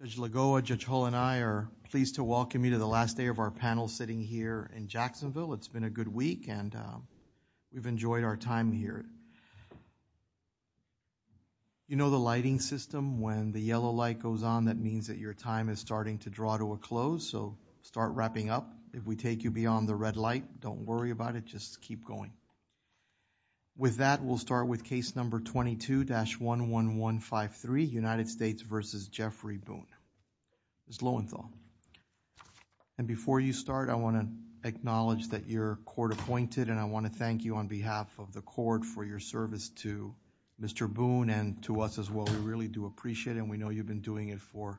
Judge Lagoa, Judge Hull, and I are pleased to welcome you to the last day of our panel sitting here in Jacksonville. It's been a good week and we've enjoyed our time here. You know the lighting system, when the yellow light goes on, that means that your time is starting to draw to a close, so start wrapping up. If we take you beyond the red light, don't With that, we'll start with case number 22-11153, United States v. Jeffrey Boone, Ms. Lowenthal. And before you start, I want to acknowledge that you're court-appointed and I want to thank you on behalf of the court for your service to Mr. Boone and to us as well. We really do appreciate it and we know you've been doing it for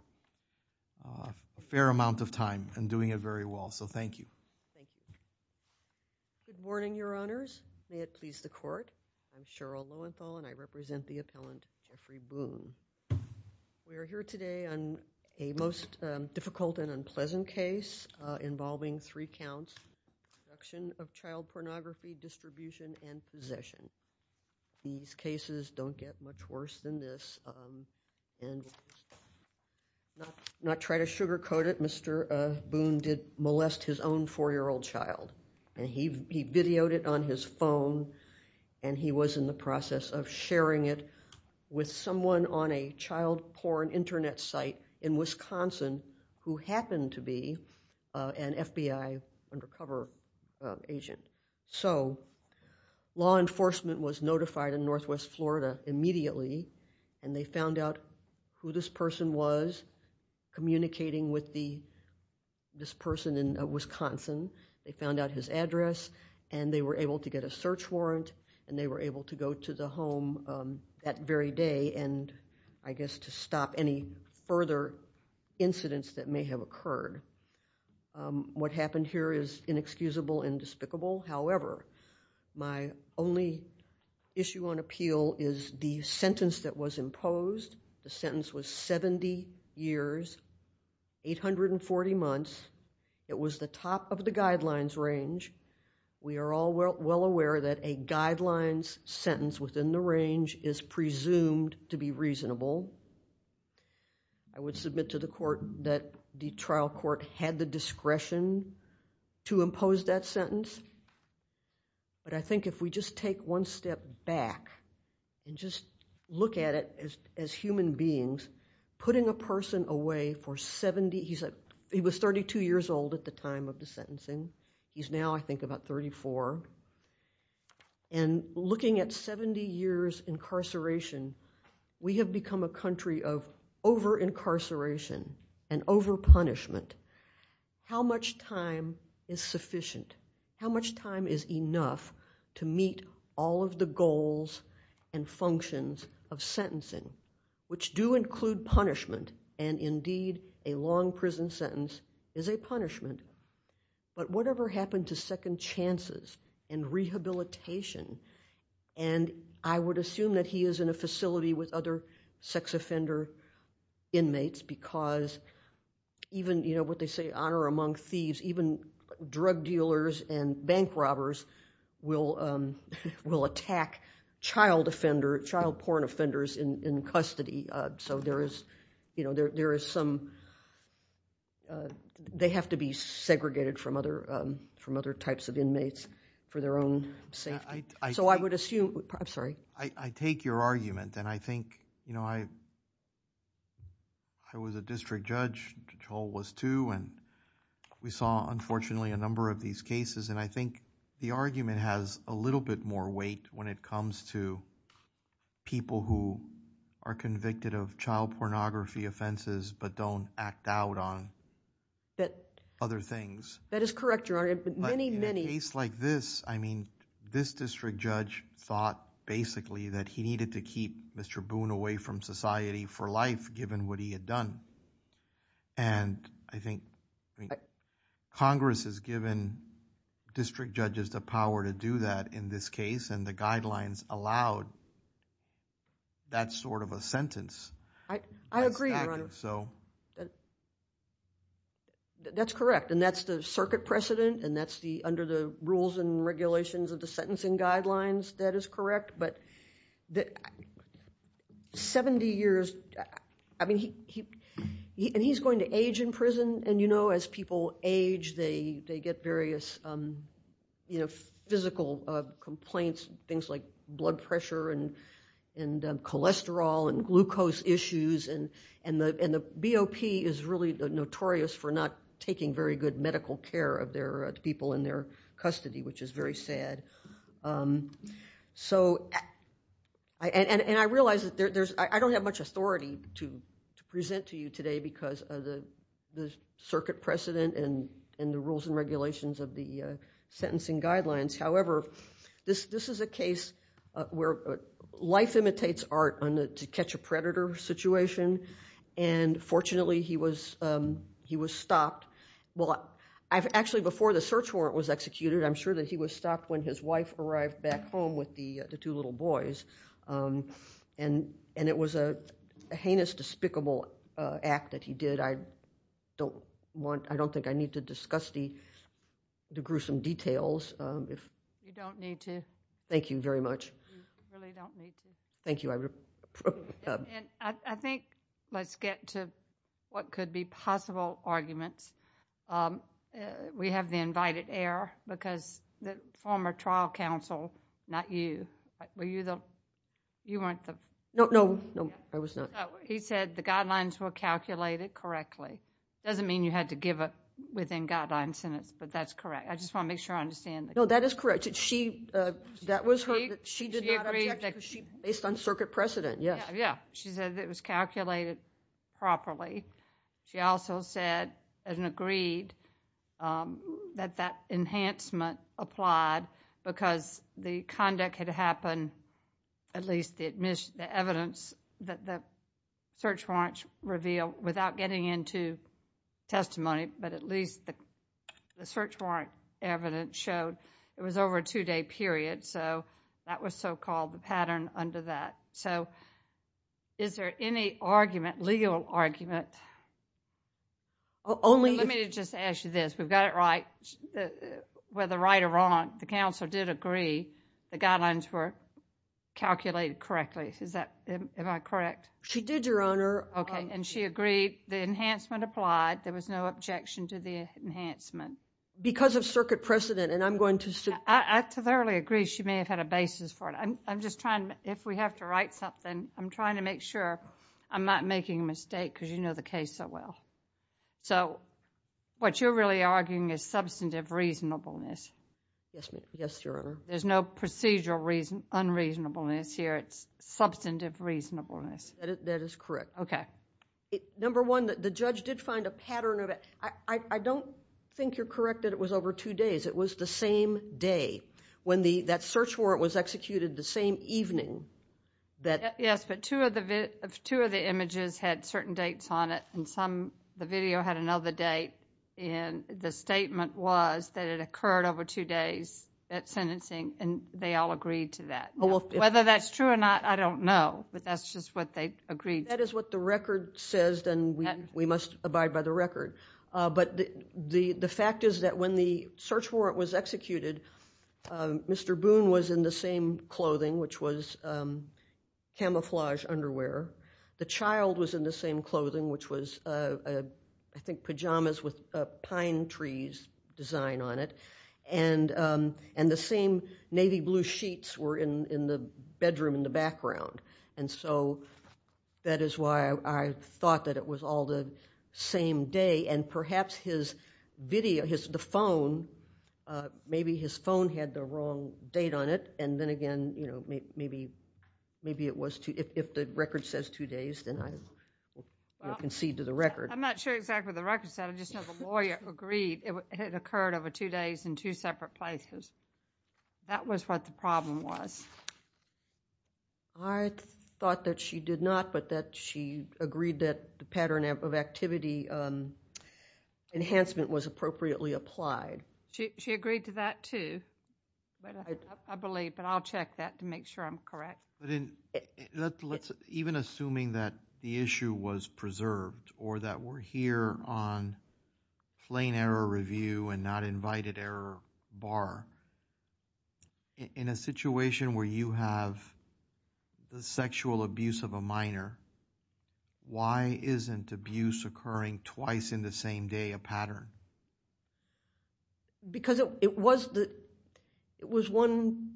a fair amount of time and doing it very well, so thank you. Good morning, your honors. May it please the court, I'm Cheryl Lowenthal and I represent the appellant Jeffrey Boone. We are here today on a most difficult and unpleasant case involving three counts, abduction of child pornography, distribution, and possession. These cases don't get much worse than this and not try to sugarcoat it, Mr. Boone did molest his own four-year-old child and he videoed it on his phone and he was in the process of sharing it with someone on a child porn internet site in Wisconsin who happened to be an FBI undercover agent. So, law enforcement was notified in Northwest Florida immediately and they found out who this person was, communicating with this person in Wisconsin. They found out his address and they were able to get a search warrant and they were able to go to the home that very day and I guess to stop any further incidents that may have occurred. What happened here is inexcusable and despicable, however, my only issue on appeal is the sentence that was imposed. The sentence was 70 years, 840 months. It was the top of the guidelines range. We are all well aware that a guidelines sentence within the range is presumed to be court had the discretion to impose that sentence, but I think if we just take one step back and just look at it as human beings, putting a person away for 70, he was 32 years old at the time of the sentencing, he's now I think about 34, and looking at 70 years incarceration, we have become a country of over incarceration and over punishment. How much time is sufficient? How much time is enough to meet all of the goals and functions of sentencing, which do include punishment and indeed a long prison sentence is a punishment, but whatever happened to second chances and rehabilitation and I would assume that he is in a facility with other sex offender inmates because even what they say honor among thieves, even drug dealers and bank robbers will attack child offender, child porn offenders in custody, so there is some, they have to be segregated from other types of inmates for their own safety, so I would assume, I'm sorry. I take your argument and I think, you know, I was a district judge, Joel was too, and we saw unfortunately a number of these cases and I think the argument has a little bit more weight when it comes to people who are convicted of child pornography offenses but don't act out on other things. That is correct, Your Honor, but many, many... In a case like this, I mean, this district judge thought basically that he needed to keep Mr. Boone away from society for life given what he had done and I think Congress has given district judges the power to do that in this case and the guidelines allowed that sort of a sentence. I agree, Your Honor. That's correct and that's the circuit precedent and that's under the rules and regulations of the sentencing guidelines, that is correct, but 70 years, I mean, and he's going to age, they get various physical complaints, things like blood pressure and cholesterol and glucose issues and the BOP is really notorious for not taking very good medical care of their people in their custody, which is very sad, so and I realize that there's... I don't have much authority to present to you today because of the circuit precedent and the rules and regulations of the sentencing guidelines, however, this is a case where life imitates art to catch a predator situation and fortunately, he was stopped... well, actually before the search warrant was executed, I'm sure that he was stopped when his wife arrived back home with the two little boys and it was a heinous, despicable act that he did. I don't want... I don't think I need to discuss the gruesome details if... You don't need to. Thank you very much. You really don't need to. Thank you. I think let's get to what could be possible arguments. We have the invited heir because the former trial counsel, not you, were you the... you weren't the... No, no, no, I was not. He said the guidelines were calculated correctly. It doesn't mean you had to give a within-guideline sentence, but that's correct. I just want to make sure I understand. No, that is correct. She... that was her... She did not object because she...... based on circuit precedent, yes. Yeah, she said it was calculated properly. She also said and agreed that that enhancement applied because the conduct had happened, at least the evidence that the search warrants revealed without getting into testimony, but at least the search warrant evidence showed it was over a two-day period, so that was so-called the pattern under that. So, is there any argument, legal argument... Only...... the counsel did agree the guidelines were calculated correctly. Is that... am I correct? She did, Your Honor. Okay, and she agreed the enhancement applied. There was no objection to the enhancement. Because of circuit precedent, and I'm going to... I thoroughly agree she may have had a basis for it. I'm just trying... if we have to write something, I'm trying to make sure I'm not making a mistake because you know the reasonableness. Yes, ma'am. Yes, Your Honor. There's no procedural unreasonableness here. It's substantive reasonableness. That is correct. Okay. Number one, the judge did find a pattern of it. I don't think you're correct that it was over two days. It was the same day. When that search warrant was executed the same evening, that... Yes, but two of the images had certain dates on it, and some... the video had another date, and the statement was that it occurred over two days at sentencing, and they all agreed to that. Whether that's true or not, I don't know, but that's just what they agreed to. If that is what the record says, then we must abide by the record. But the fact is that when the search warrant was executed, Mr. Boone was in the same clothing, which was pine trees design on it, and the same navy blue sheets were in the bedroom in the background. That is why I thought that it was all the same day, and perhaps his video... the phone... maybe his phone had the wrong date on it, and then again, maybe it was... if the record says two days, then I concede to the record. I'm not sure exactly what the record said. I just know the lawyer agreed it had occurred over two days in two separate places. That was what the problem was. I thought that she did not, but that she agreed that the pattern of activity enhancement was appropriately applied. She agreed to that, too, I believe, but I'll check that to make sure I'm correct. Even assuming that the issue was preserved or that we're here on plain error review and not invited error bar, in a situation where you have the sexual abuse of a minor, why isn't abuse occurring twice in the same day a pattern? Because it was one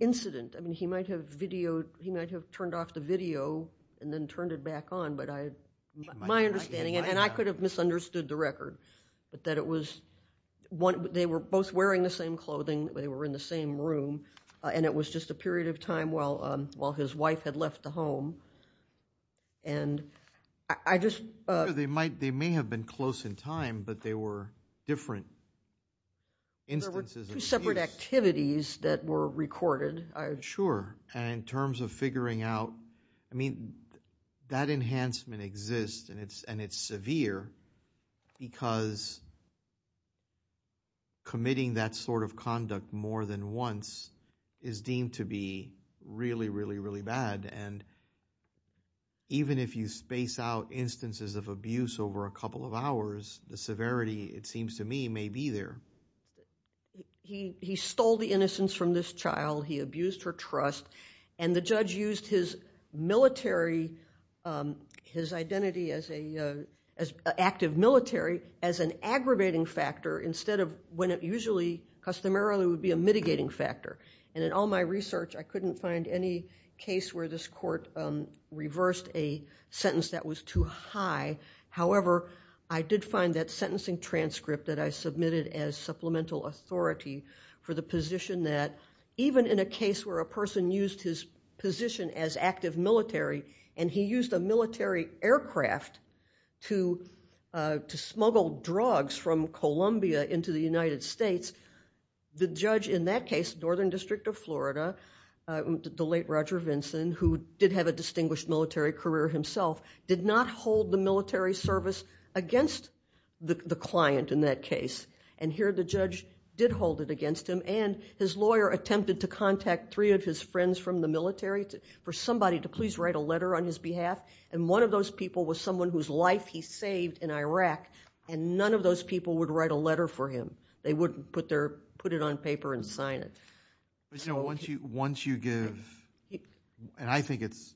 incident. He might have turned off the video and then turned it back on, but my understanding... and I could have misunderstood the record, but that it was... they were both wearing the same clothing, they were in the same room, and it was just a period of time while his wife had left the home, and I just... They may have been close in time, but they were different instances of abuse. There were two separate activities that were recorded. Sure, and in terms of figuring out... I mean, that enhancement exists, and it's severe, because committing that sort of conduct more than once is deemed to be really, really, of abuse over a couple of hours. The severity, it seems to me, may be there. He stole the innocence from this child, he abused her trust, and the judge used his military... his identity as active military as an aggravating factor instead of when it usually, customarily, would be a mitigating factor. And in all my research, I couldn't find any case where this However, I did find that sentencing transcript that I submitted as supplemental authority for the position that even in a case where a person used his position as active military, and he used a military aircraft to smuggle drugs from Columbia into the United States, the judge in that case, Northern District of Florida, the late Roger Vinson, who did have a distinguished military career himself, did not hold the military service against the client in that case. And here the judge did hold it against him, and his lawyer attempted to contact three of his friends from the military for somebody to please write a letter on his behalf, and one of those people was someone whose life he saved in Iraq, and none of those people would write a letter for him. They wouldn't put it on paper and sign it. But you know, once you give, and I think it's,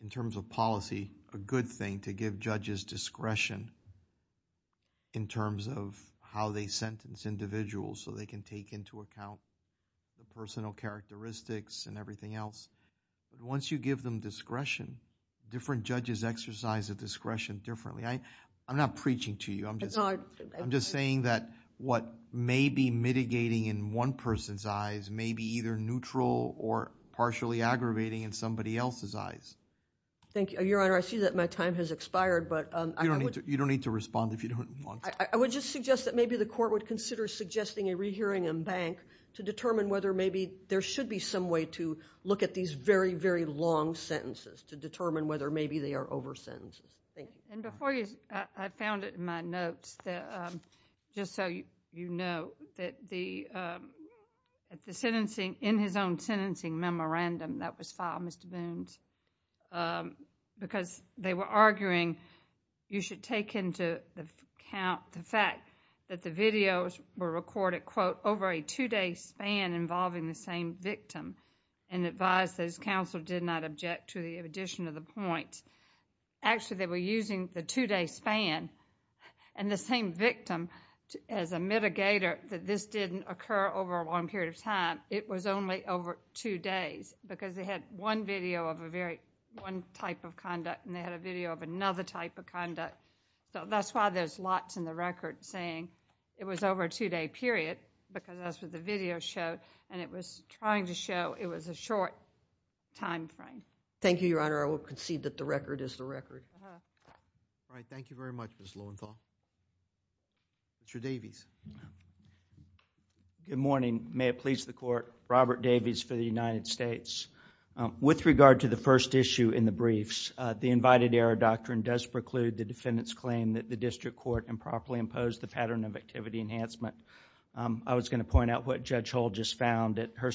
in terms of policy, a good thing to give judges discretion in terms of how they sentence individuals so they can take into account the personal characteristics and everything else. But once you give them discretion, different judges exercise the discretion differently. I'm not preaching to you. I'm just saying that what may be mitigating in one person's eyes may be either neutral or partially aggravating in somebody else's eyes. Thank you, Your Honor. I see that my time has expired, but I would... You don't need to respond if you don't want to. I would just suggest that maybe the court would consider suggesting a rehearing in bank to determine whether maybe there should be some way to look at these very, very long sentences to determine whether maybe they are over sentences. Thank you. And before you... I found it in my notes that, just so you know, that the sentencing, in his own sentencing memorandum that was filed, Mr. Boones, because they were arguing you should take into account the fact that the videos were recorded, quote, over a two-day span involving the same victim and advised that his counsel did not object to the addition of the point. Actually, they were using the two-day span and the same victim as a mitigator that this didn't occur over a long period of time. It was only over two days because they had one video of a very... one type of conduct and they had a video of another type of conduct. So that's why there's lots in the record saying it was over a two-day period because that's what the video showed and it was trying to show it was a short time frame. Thank you, Your Honor. I will concede that the record is the record. All right. Thank you very much, Ms. Lowenthal. Mr. Davies. Good morning. May it please the Court. Robert Davies for the United States. With regard to the first issue in the briefs, the invited error doctrine does preclude the defendant's claim that the district court improperly imposed the pattern of activity enhancement. I was going to point out what Judge Hull just found at her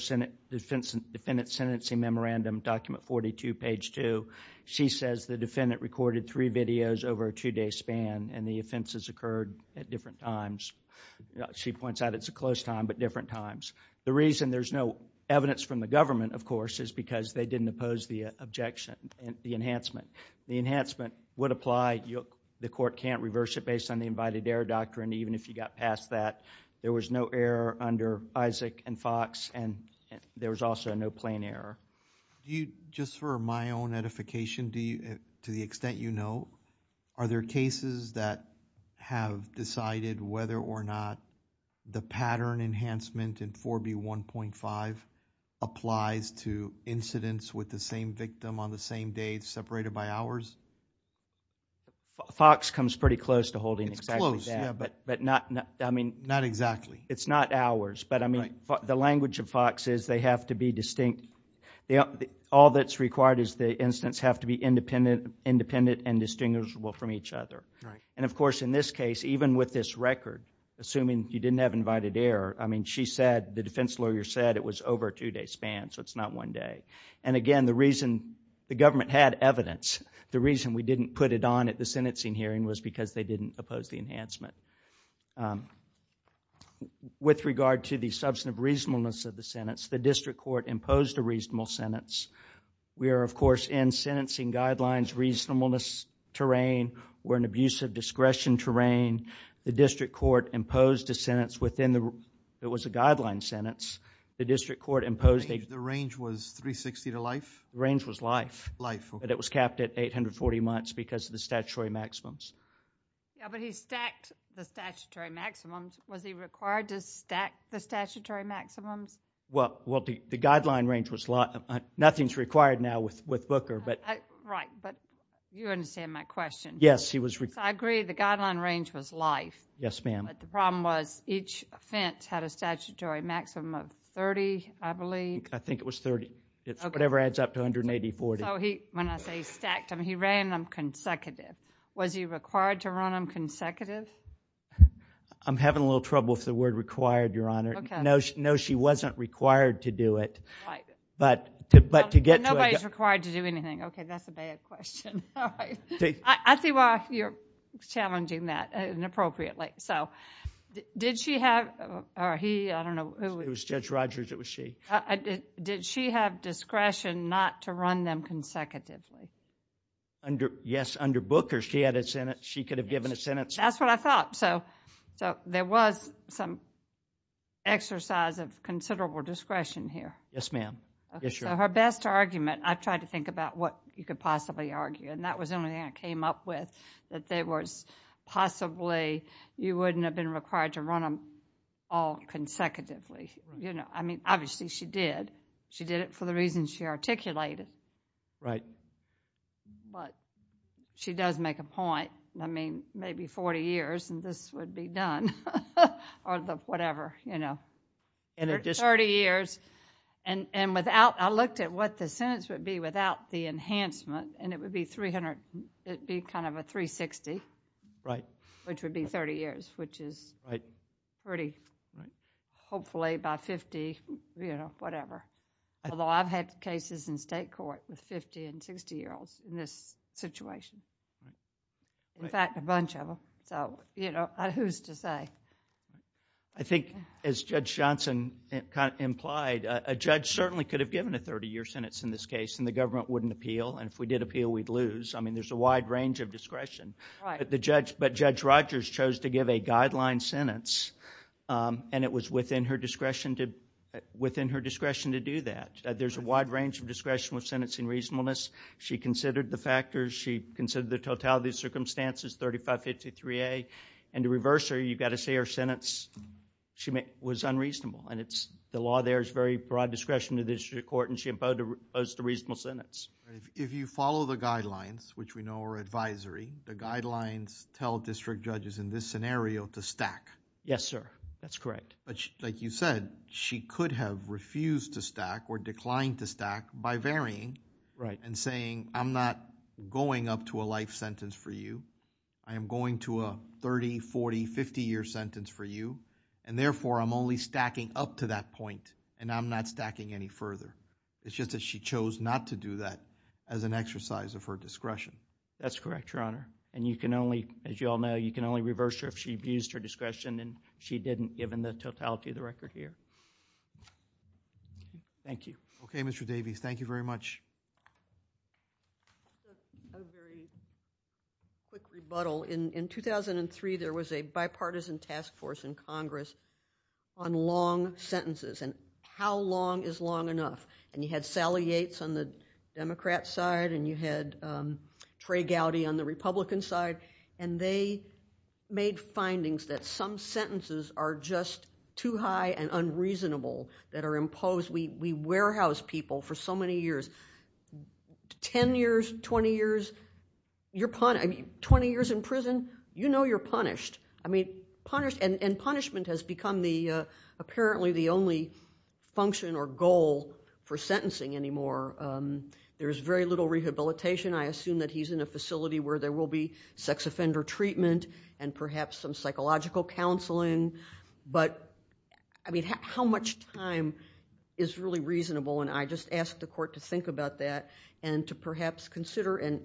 defendant's sentencing memorandum, document 42, page 2. She says the defendant recorded three videos over a two-day span and the offenses occurred at different times. She points out it's a close time but different times. The reason there's no evidence from the government, of course, is because they didn't oppose the objection, the enhancement. The enhancement would apply. The court can't reverse it based on the invited error doctrine even if you got past that. There was no error under Isaac and Fox and there was also no plain error. Just for my own edification, to the extent you know, are there cases that have decided whether or not the pattern enhancement in 4B1.5 applies to incidents with the same victim on the same day separated by hours? Fox comes pretty close to holding exactly that. Not exactly. It's not hours. The language of Fox is they have to be distinct. All that's required is the incidents have to be independent and distinguishable from each other. Of course, in this case, even with this record, assuming you didn't have invited error, I mean, she said, the defense lawyer said it was over a two-day span, so it's not one day. Again, the reason the government had evidence, the reason we didn't put it on at the sentencing hearing was because they didn't oppose the enhancement. With regard to the substantive reasonableness of the sentence, the district court imposed a reasonable sentence. We are, of course, in sentencing guidelines reasonableness terrain. We're in abusive discretion terrain. The district court imposed a sentence within the... It was a guideline sentence. The district court imposed... The range was 360 to life? The range was life. Life, okay. It was capped at 840 months because of the statutory maximums. Yeah, but he stacked the statutory maximums. Was he required to stack the statutory maximums? Well, the guideline range was... Nothing's required now with Booker, but... Right, but you understand my question. Yes, he was... I agree the guideline range was life. Yes, ma'am. But the problem was each offense had a statutory maximum of 30, I believe. I think it was 30. Okay. It's whatever adds up to 180, 40. So when I say he stacked them, he ran them consecutive. Was he required to run them consecutive? I'm having a little trouble with the word required, Your Honor. Okay. No, she wasn't required to do it. Right. Nobody's required to do anything. Okay, that's a bad question. All right. I see why you're challenging that inappropriately. So did she have... or he, I don't know who... It was Judge Rogers. It was she. Did she have discretion not to run them consecutively? Yes, under Booker, she had a... she could have given a sentence. That's what I thought. So there was some exercise of considerable discretion here. Yes, Your Honor. So her best argument... I tried to think about what you could possibly argue, and that was the only thing I came up with, that there was possibly... you wouldn't have been required to run them all consecutively. Right. I mean, obviously she did. She did it for the reasons she articulated. Right. But she does make a point. I mean, maybe 40 years and this would be done, or whatever, you know. In addition... It would be without the enhancement, and it would be 300... it would be kind of a 360. Right. Which would be 30 years, which is...... pretty... Right. Hopefully by 50, you know, whatever. Although I've had cases in state court with 50 and 60-year-olds in this situation. Right. In fact, a bunch of them. So, you know, who's to say? I think, as Judge Johnson implied, a judge certainly could have given a 30-year sentence in this case, and the government wouldn't appeal. And if we did appeal, we'd lose. I mean, there's a wide range of discretion. Right. But Judge Rogers chose to give a guideline sentence, and it was within her discretion to do that. There's a wide range of discretion with sentencing reasonableness. She considered the factors. She considered the totality of circumstances, 3553A. And to reverse her, you've got to say her sentence was unreasonable. And the law there is very broad discretion to the district court, and she imposed a reasonable sentence. If you follow the guidelines, which we know are advisory, the guidelines tell district judges in this scenario to stack. Yes, sir. That's correct. Like you said, she could have refused to stack or declined to stack by varying... Right.... and saying, I'm not going up to a life sentence for you. I am going to a 30-, 40-, 50-year sentence for you. And, therefore, I'm only stacking up to that point, and I'm not stacking any further. It's just that she chose not to do that as an exercise of her discretion. That's correct, Your Honor. And you can only, as you all know, you can only reverse her if she abused her discretion, and she didn't, given the totality of the record here. Thank you. Okay, Mr. Davies. Thank you very much. A very quick rebuttal. In 2003, there was a bipartisan task force in Congress on long sentences and how long is long enough. And you had Sally Yates on the Democrat side, and you had Trey Gowdy on the Republican side. And they made findings that some sentences are just too high and unreasonable that are imposed. We warehouse people for so many years, 10 years, 20 years. 20 years in prison, you know you're punished. And punishment has become apparently the only function or goal for sentencing anymore. There's very little rehabilitation. I assume that he's in a facility where there will be sex offender treatment and perhaps some psychological counseling. But, I mean, how much time is really reasonable? And I just ask the court to think about that and to perhaps consider an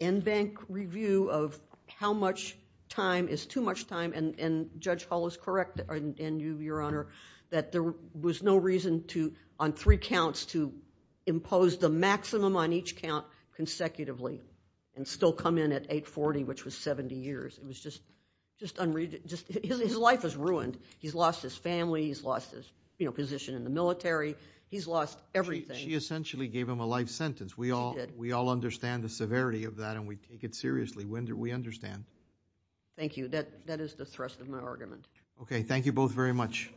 in-bank review of how much time is too much time. And Judge Hall is correct, and you, Your Honor, that there was no reason on three counts to impose the maximum on each count consecutively and still come in at 840, which was 70 years. It was just unreasonable. His life is ruined. He's lost his family. He's lost his position in the military. He's lost everything. She essentially gave him a life sentence. She did. We all understand the severity of that, and we take it seriously. We understand. Thank you. That is the thrust of my argument. Okay. Thank you both very much.